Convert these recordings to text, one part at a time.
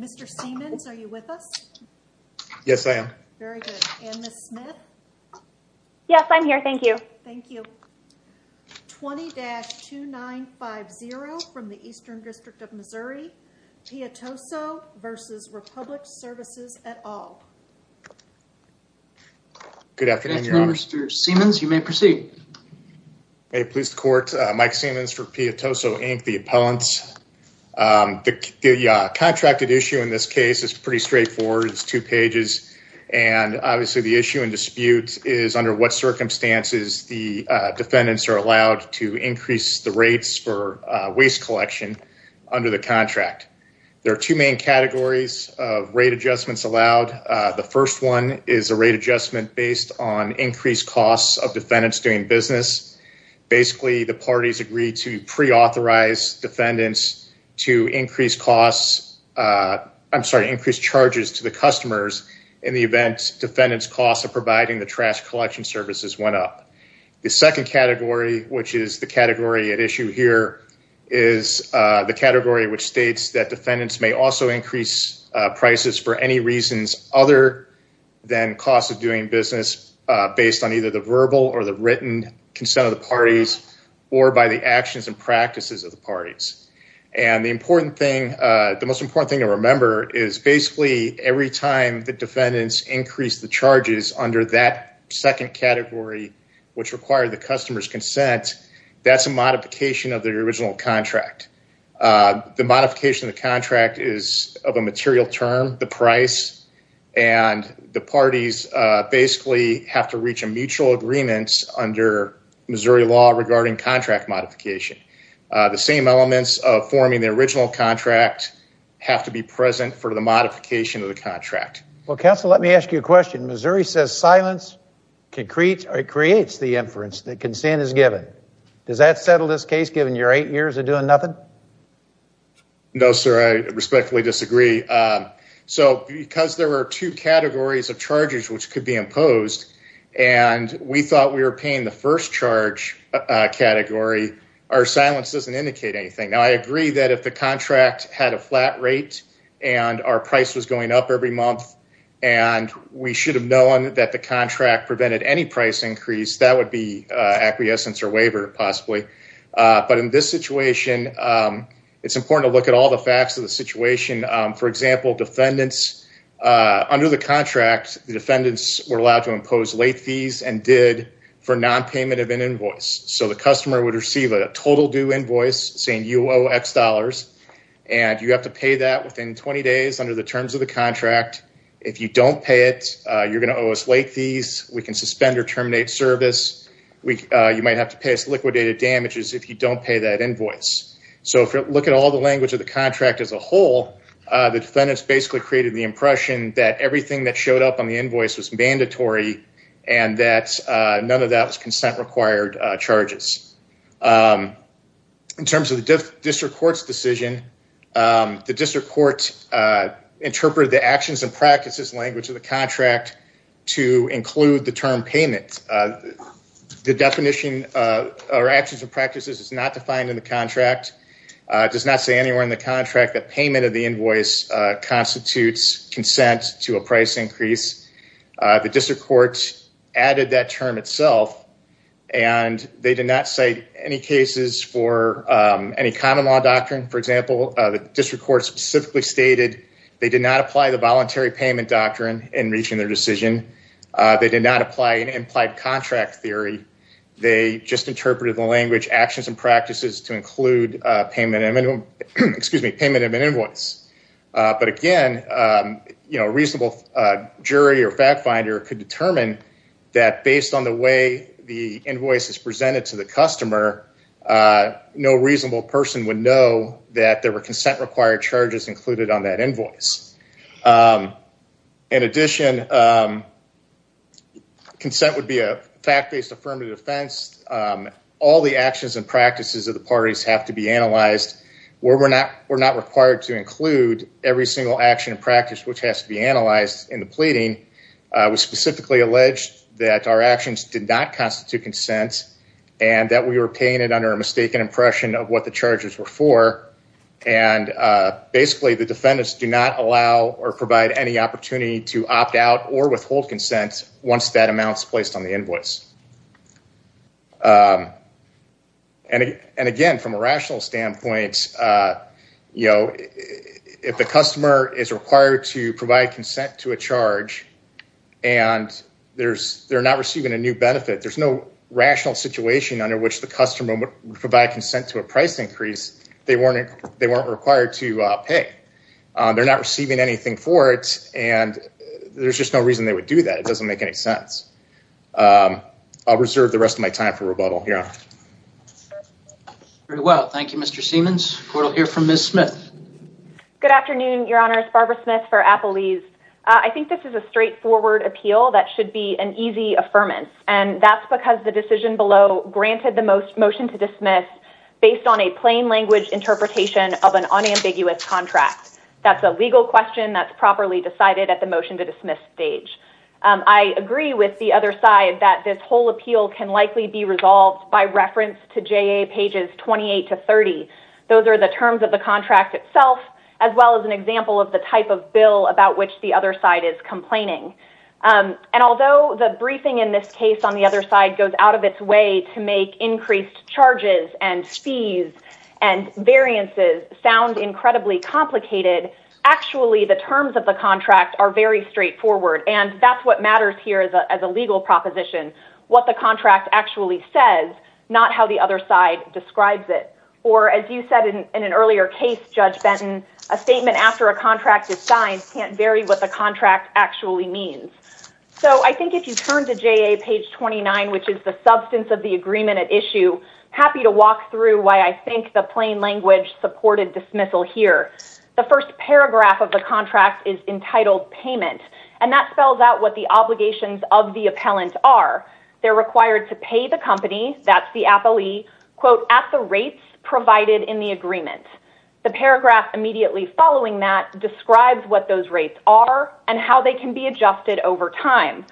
Mr. Seamans, are you with us? Yes, I am. Very good. And Ms. Smith? Yes, I'm here. Thank you. Thank you. 20-2950 from the Eastern District of Missouri, Piatoso v. Republic Services, et al. Good afternoon, Mr. Seamans. You may proceed. May it please the court. Mike Seamans for Piatoso, Inc., the appellants. The contracted issue in this case is pretty straightforward. It's two pages, and obviously the issue and dispute is under what circumstances the defendants are allowed to increase the rates for waste collection under the contract. There are two main categories of rate adjustments allowed. The first one is a rate adjustment based on increased costs of defendants doing business. Basically, the parties agreed to pre-authorize defendants to increase charges to the customers in the event defendants' costs of providing the trash collection services went up. The second category, which is the category at issue here, is the category which states that defendants may also increase prices for any reasons other than costs of doing business based on either the verbal or the written consent of the parties or by the actions and practices of the parties. The most important thing to remember is basically every time the defendants increase the charges under that second category, which required the customer's consent, that's a modification of their original contract. The modification of the contract is of a material term, the price, and the parties basically have to reach a mutual agreement under Missouri law regarding contract modification. The same elements of forming the original contract have to be present for the modification of the contract. Well, counsel, let me ask you a question. Missouri says silence creates the inference that consent is given. Does that settle this case given your eight years of doing nothing? No, sir, I respectfully disagree. So, because there were two categories of charges which could be imposed and we thought we were paying the first charge category, our silence doesn't indicate anything. Now, I agree that if the contract had a flat rate and our price was going up every month and we should have known that the contract prevented any price increase, that would be acquiescence or waiver, possibly. But in this situation, it's important to look at all the facts of the situation. For example, under the contract, the defendants were allowed to impose late fees and did for nonpayment of an invoice. So, the customer would receive a total due invoice saying you owe X dollars and you have to pay that within 20 days under the terms of the contract. If you don't pay it, you're going to owe us late fees. We can suspend or terminate service. You might have to pay us liquidated damages if you don't pay that invoice. So, if you look at all the language of the contract as a whole, the defendants basically created the impression that everything that showed up on the invoice was mandatory and that none of that was consent required charges. In terms of the district court's decision, the district court interpreted the actions and practices language of the contract to include the term payment. The definition or actions and practices is not anywhere in the contract that payment of the invoice constitutes consent to a price increase. The district court added that term itself, and they did not cite any cases for any common law doctrine. For example, the district court specifically stated they did not apply the voluntary payment doctrine in reaching their decision. They did not apply an implied contract theory. They just interpreted the language actions and practices to include payment of an invoice. But again, a reasonable jury or fact finder could determine that based on the way the invoice is presented to the customer, no reasonable person would know that there were consent required charges included on that invoice. In addition, consent would be a fact-based affirmative defense. All the actions and practices of the parties have to be analyzed. We're not required to include every single action and practice which has to be analyzed in the pleading. It was specifically alleged that our actions did not constitute consent and that we were paying it under a mistaken impression of what the charges were for. And basically, the defendants do not allow or provide any opportunity to opt out or withhold consent once that amount is placed on the invoice. And again, from a rational standpoint, you know, if the customer is required to provide consent to a charge and they're not receiving a new benefit, there's no rational situation under which the customer would provide consent to a price increase, they weren't required to pay. They're not receiving anything for it, and there's just no reason they would do that. It doesn't make any sense. I'll reserve the rest of my time for rebuttal, Your Honor. Very well. Thank you, Mr. Siemens. Court will hear from Ms. Smith. Good afternoon, Your Honor. It's Barbara Smith for Applebee's. I think this is a straightforward appeal that should be an easy affirmance, and that's because the decision below granted the motion to dismiss based on a plain language interpretation of an unambiguous contract. That's a legal question that's properly decided at the motion to dismiss stage. I agree with the other side that this whole appeal can likely be resolved by reference to JA pages 28 to 30. Those are the terms of the contract itself, as well as an example of the side is complaining. Although the briefing in this case on the other side goes out of its way to make increased charges and fees and variances sound incredibly complicated, actually the terms of the contract are very straightforward. That's what matters here as a legal proposition, what the contract actually says, not how the other side describes it. Or as you said in an earlier case, Judge Benton, a statement after a contract is signed can't vary what the contract actually means. So I think if you turn to JA page 29, which is the substance of the agreement at issue, happy to walk through why I think the plain language supported dismissal here. The first paragraph of the contract is entitled payment, and that spells out what the obligations of the appellant are. They're required to pay the company, that's the appellee, quote, at the rates provided in the agreement. The paragraph immediately following that and how they can be adjusted over time.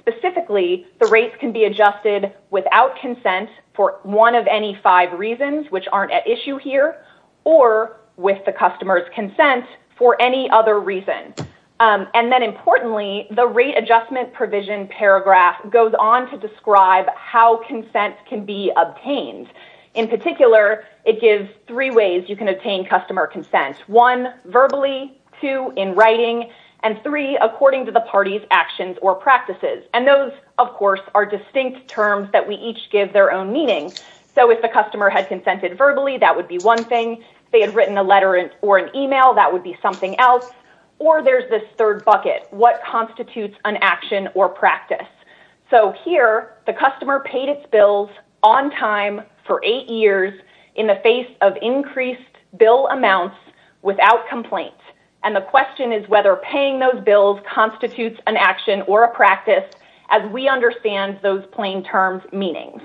Specifically, the rates can be adjusted without consent for one of any five reasons, which aren't at issue here, or with the customer's consent for any other reason. And then importantly, the rate adjustment provision paragraph goes on to describe how consent can be obtained. In particular, it gives three ways you can obtain customer consent. One, verbally. Two, in writing. And three, according to the party's actions or practices. And those, of course, are distinct terms that we each give their own meaning. So if the customer had consented verbally, that would be one thing. If they had written a letter or an email, that would be something else. Or there's this third bucket, what constitutes an action or practice. So here, the customer paid its bills on time for eight years in the face of bill amounts without complaint. And the question is whether paying those bills constitutes an action or a practice as we understand those plain terms' meanings.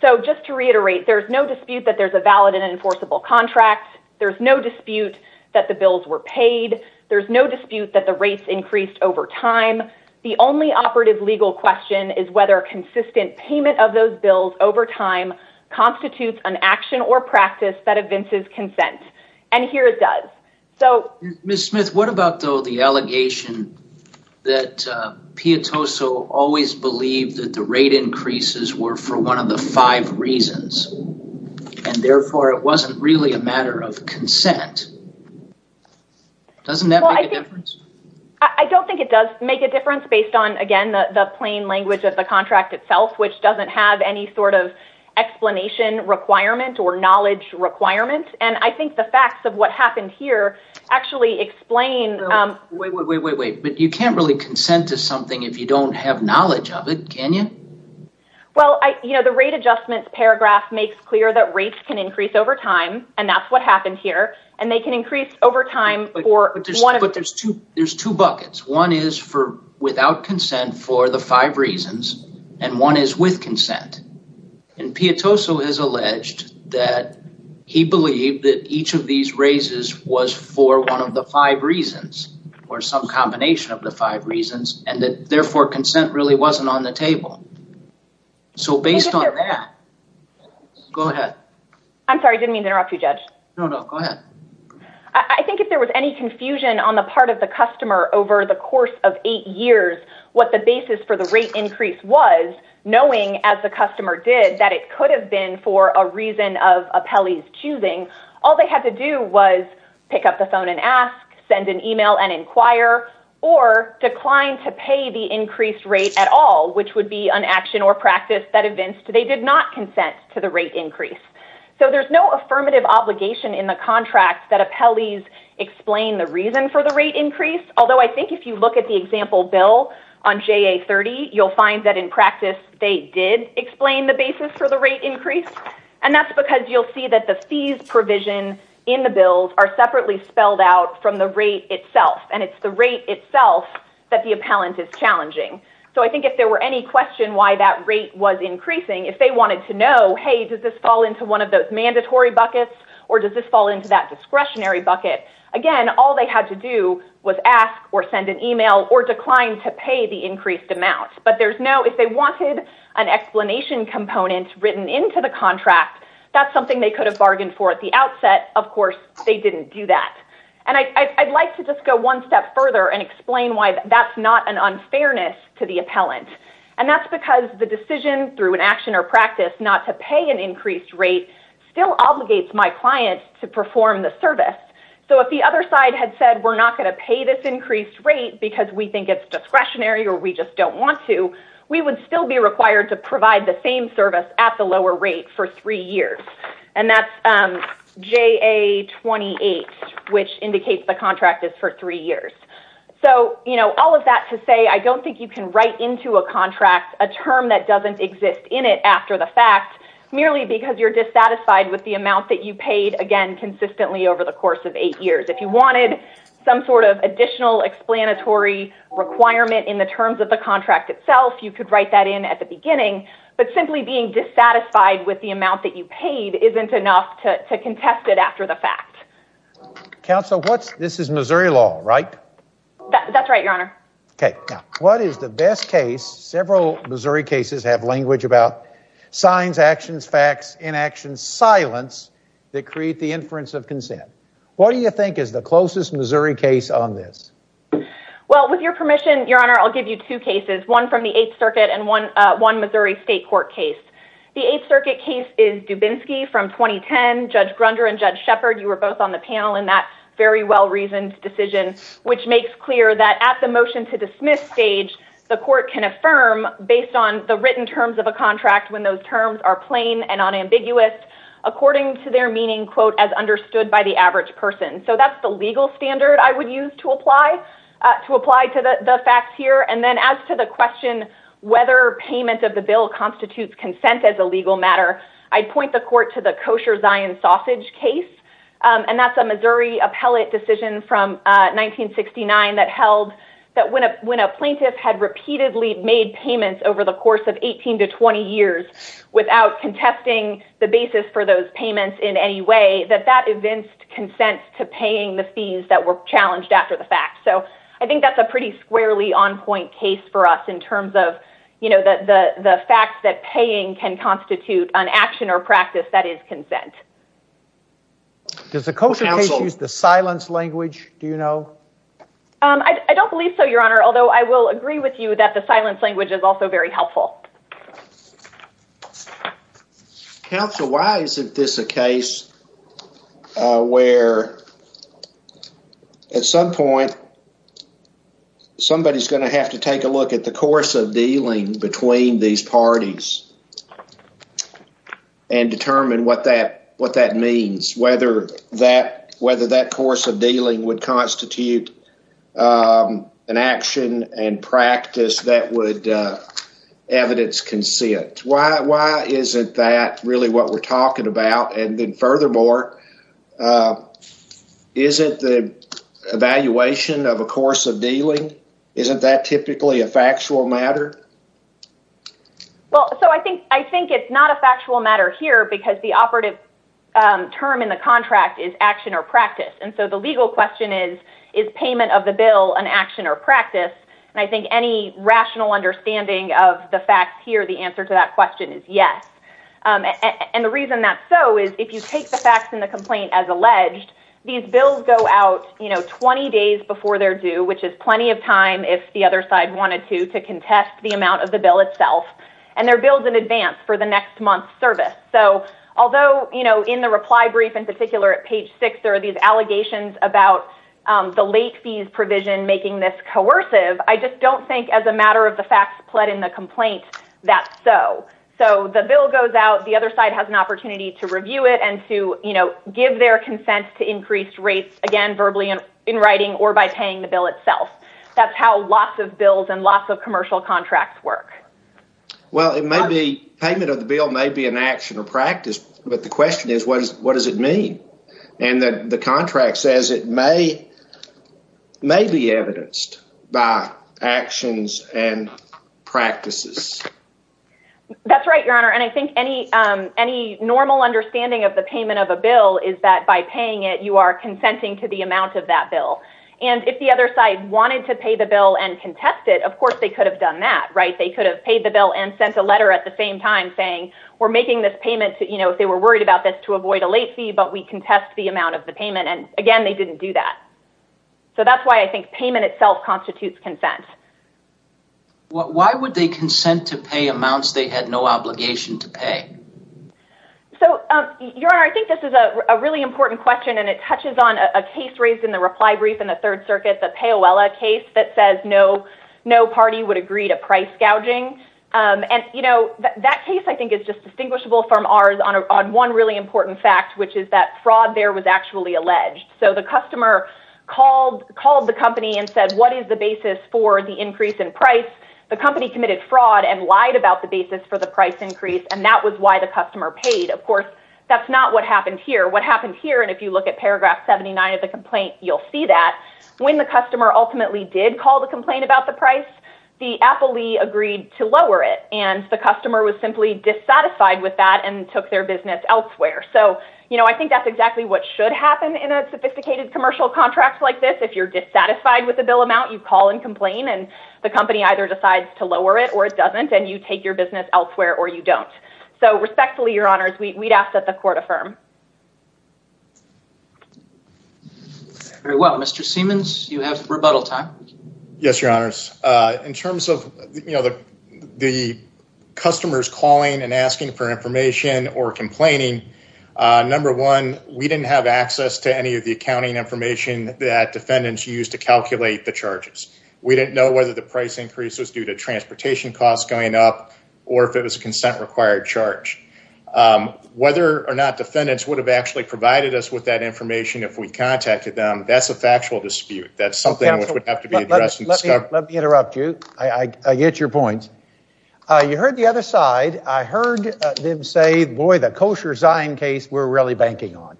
So just to reiterate, there's no dispute that there's a valid and enforceable contract. There's no dispute that the bills were paid. There's no dispute that the rates increased over time. The only operative legal question is whether consistent payment of those bills over time constitutes an action or practice that evinces consent. And here, it does. So... Ms. Smith, what about, though, the allegation that Piatoso always believed that the rate increases were for one of the five reasons, and therefore, it wasn't really a matter of consent? Doesn't that make a difference? I don't think it does make a difference based on, again, the plain language of the contract itself, which doesn't have any sort of explanation requirement or knowledge requirement. And I think the facts of what happened here actually explain... Wait, wait, wait, wait. But you can't really consent to something if you don't have knowledge of it, can you? Well, the rate adjustments paragraph makes clear that rates can increase over time, and that's what happened here. And they can increase over time for one of... There's two buckets. One is for without consent for the five reasons, and one is with consent. And Piatoso has alleged that he believed that each of these raises was for one of the five reasons, or some combination of the five reasons, and that, therefore, consent really wasn't on the table. So based on that... Go ahead. I'm sorry, didn't mean to interrupt you, Judge. No, no, go ahead. I think if there was any confusion on the part of the customer over the course of eight years, what the basis for the rate increase was, knowing, as the customer did, that it could have been for a reason of Apelli's choosing, all they had to do was pick up the phone and ask, send an email and inquire, or decline to pay the increased rate at all, which would be an action or practice that evinced they did not consent to the rate increase. So there's no affirmative obligation in the contract that Apelli's explain the reason for the rate increase, although I think if you look at the example bill on JA30, you'll find that in practice, they did explain the basis for the rate increase, and that's because you'll see that the fees provision in the bills are separately spelled out from the rate itself, and it's the rate itself that the appellant is challenging. So I think if there were any question why that rate was increasing, if they wanted to know, hey, does this fall into one of those mandatory buckets or does this fall into that discretionary bucket, again, all they had to do was ask or send an email or decline to pay the increased amount, but there's no, if they wanted an explanation component written into the contract, that's something they could have bargained for at the outset. Of course, they didn't do that. And I'd like to just go one step further and explain why that's not an unfairness to the appellant, and that's because the decision through an action or practice not to pay an increased rate still obligates my client to perform the service. So if the other side had said we're not going to pay this increased rate because we think it's discretionary or we just don't want to, we would still be required to provide the same service at the lower rate for three years, and that's JA28, which indicates the contract is for three years. So, you know, all of that to say, I don't think you can write into a contract a term that doesn't exist in it after the fact merely because you're dissatisfied with the amount that you paid, again, consistently over the course of eight years. If you wanted some sort of additional explanatory requirement in the terms of the contract itself, you could write that in at the beginning, but simply being dissatisfied with the amount that you paid isn't enough to contest it after the fact. Counsel, what's, this is Missouri law, right? That's right, your honor. Okay, now, what is the best case, several Missouri cases have language about, signs, actions, facts, inaction, silence, that create the inference of consent? What do you think is the closest Missouri case on this? Well, with your permission, your honor, I'll give you two cases, one from the Eighth Circuit and one Missouri state court case. The Eighth Circuit case is Dubinsky from 2010. Judge Grunder and Judge Shepard, you were both on the panel in that very well-reasoned decision, which makes clear that at the motion to dismiss stage, the court can affirm based on the written terms of a contract when those terms are plain and unambiguous, according to their meaning, quote, as understood by the average person. So that's the legal standard I would use to apply, to apply to the facts here. And then as to the question whether payment of the bill constitutes consent as a legal matter, I'd point the court to the Missouri appellate decision from 1969 that held that when a plaintiff had repeatedly made payments over the course of 18 to 20 years without contesting the basis for those payments in any way, that that evinced consent to paying the fees that were challenged after the fact. So I think that's a pretty squarely on-point case for us in terms of, you know, the fact that paying can be considered consent. Does the kosher case use the silence language, do you know? I don't believe so, your honor, although I will agree with you that the silence language is also very helpful. Counsel, why isn't this a case where at some point somebody's going to have to take a look at the course of dealing between these parties and determine what that, what that means, whether that, whether that course of dealing would constitute an action and practice that would evidence consent? Why, why isn't that really what we're talking about? And then furthermore, isn't the evaluation of a course of dealing, isn't that typically a factual matter? Well, so I think, I think it's not a factual matter here because the operative term in the contract is action or practice. And so the legal question is, is payment of the bill an action or practice? And I think any rational understanding of the facts here, the answer to that question is yes. And the reason that's so is if you take the facts in the complaint as alleged, these bills go out, you know, 20 days before they're due, which is plenty of time if the other side wanted to, to contest the amount of the bill itself. And they're bills in advance for the next month's service. So although, you know, in the reply brief in particular at page six, there are these allegations about the late fees provision making this coercive, I just don't think as a matter of the facts pled in the complaint, that's so. So the bill goes out, the other side has an opportunity to review it and to, you know, give their consent to increased rates, again, verbally in writing or by paying the bill itself. That's how lots of bills and lots of commercial contracts work. Well, it may be payment of the bill may be an action or practice. But the question is, what is, what does it mean? And the contract says it may, may be evidenced by actions and practices. That's right, Your Honor. And I think any, any normal understanding of the payment of a bill is that by paying it, you are consenting to the amount of that bill. And if the other side wanted to pay the bill and contest it, of course, they could have done that, right? They could have paid the bill and sent a letter at the same time saying, we're making this payment to, you know, if they were worried about this to avoid a late fee, but we contest the amount of the payment. And again, they didn't do that. So that's why I think payment itself constitutes consent. What, why would they consent to pay amounts they had no obligation to pay? So, Your Honor, I think this is a really important question and it touches on a case raised in the reply brief in the third circuit, the Payoella case that says no, no party would agree to price gouging. And, you know, that case I think is just distinguishable from ours on one really important fact, which is that fraud there was actually alleged. So the customer called, called the company and said, what is the basis for the increase in price? The company committed fraud and lied about the basis for the price increase. And that was why the customer paid. Of course, that's not what happened here. What happened here, and if you look at paragraph 79 of the complaint, you'll see that when the customer ultimately did call the complaint about the price, the Apple Lee agreed to lower it. And the customer was simply dissatisfied with that and took their business elsewhere. So, you know, I think that's exactly what should happen in a sophisticated commercial contract like this. If you're dissatisfied with the bill amount, you call and complain and the company either decides to lower it or it doesn't, and you take your business elsewhere or you don't. So respectfully, Your Honors, we'd ask that the court affirm. Very well. Mr. Siemens, you have rebuttal time. Yes, Your Honors. In terms of, you know, the customers calling and asking for information or complaining, number one, we didn't have access to any of the accounting information that defendants used to calculate the charges. We didn't know whether the price increase was due to transportation costs going up or if it was a consent required charge. Whether or not defendants would have actually provided us with that information if we contacted them, that's a factual dispute. That's something which would have to be addressed. Let me interrupt you. I get your points. You heard the other side. I heard them say, boy, the Kosher Zion case, we're really banking on.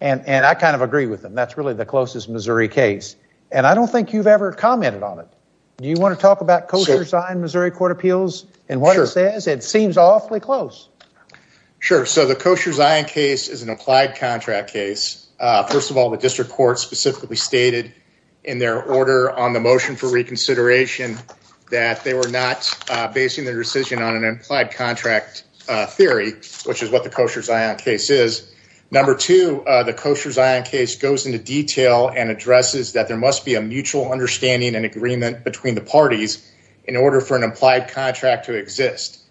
And I kind of agree with them. That's really the closest Missouri case. And I don't think you've ever commented on it. Do you want to talk about Kosher Zion Missouri Court of Appeals and what it says? It seems awfully close. Sure. So the Kosher Zion case is an applied contract case. First of all, the district court specifically stated in their order on the motion for reconsideration that they were not basing their decision on an implied contract theory, which is what the Kosher Zion case is. Number two, the Kosher Zion case goes into detail and addresses that there must be a mutual understanding and agreement between the parties in order for an applied contract to exist.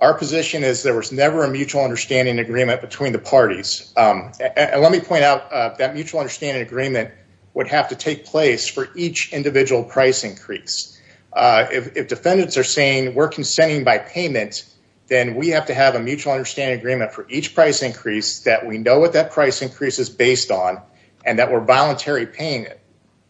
Our position is there was never a mutual understanding agreement between the parties. And let me point out that mutual understanding agreement would have to take place for each individual price increase. If defendants are saying we're consenting by payment, then we have to have a mutual understanding agreement for each price increase that we know what that price increase is based on and that we're voluntary paying it.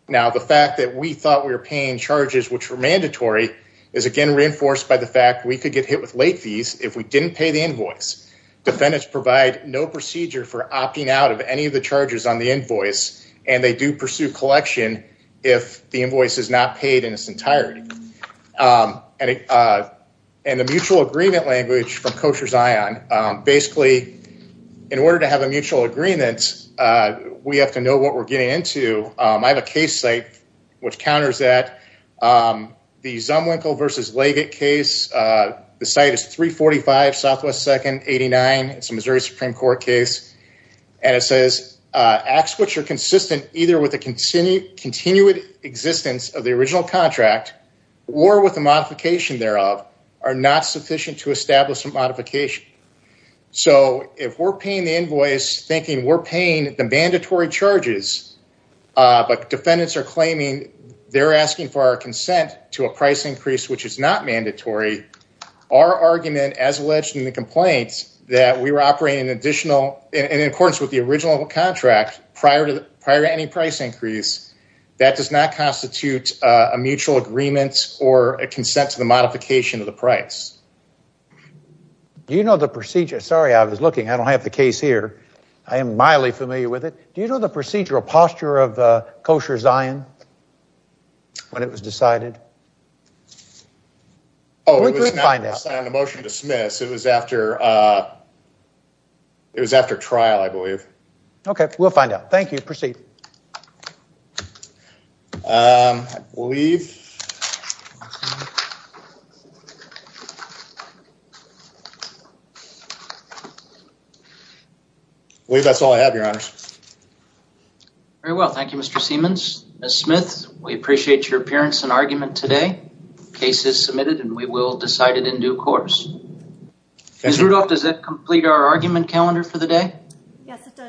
Now, the fact that we thought we were paying charges which were mandatory is, again, reinforced by the fact we could get hit with late fees if we didn't pay the invoice. Defendants provide no procedure for opting out of any of on the invoice and they do pursue collection if the invoice is not paid in its entirety. And the mutual agreement language from Kosher Zion, basically, in order to have a mutual agreement, we have to know what we're getting into. I have a case site which counters that. The Zumwinkel versus Leggett case, the site is 345 Southwest 2nd 89. It's a Missouri Supreme Court case. And it says acts which are consistent either with the continued existence of the original contract or with the modification thereof are not sufficient to establish a modification. So, if we're paying the invoice thinking we're paying the mandatory charges, but defendants are claiming they're asking for our consent to a price increase which is not mandatory, our argument as in accordance with the original contract prior to any price increase, that does not constitute a mutual agreement or a consent to the modification of the price. Do you know the procedure? Sorry, I was looking. I don't have the case here. I am mildly familiar with it. Do you know the procedural posture of Kosher Zion when it was I believe. Okay, we'll find out. Thank you. Proceed. I believe that's all I have, your honors. Very well, thank you, Mr. Siemens. Ms. Smith, we appreciate your appearance and argument today. The case is submitted and we will decide it in session. Ms. Rudolph, does that complete our argument calendar for the day? Yes, it does.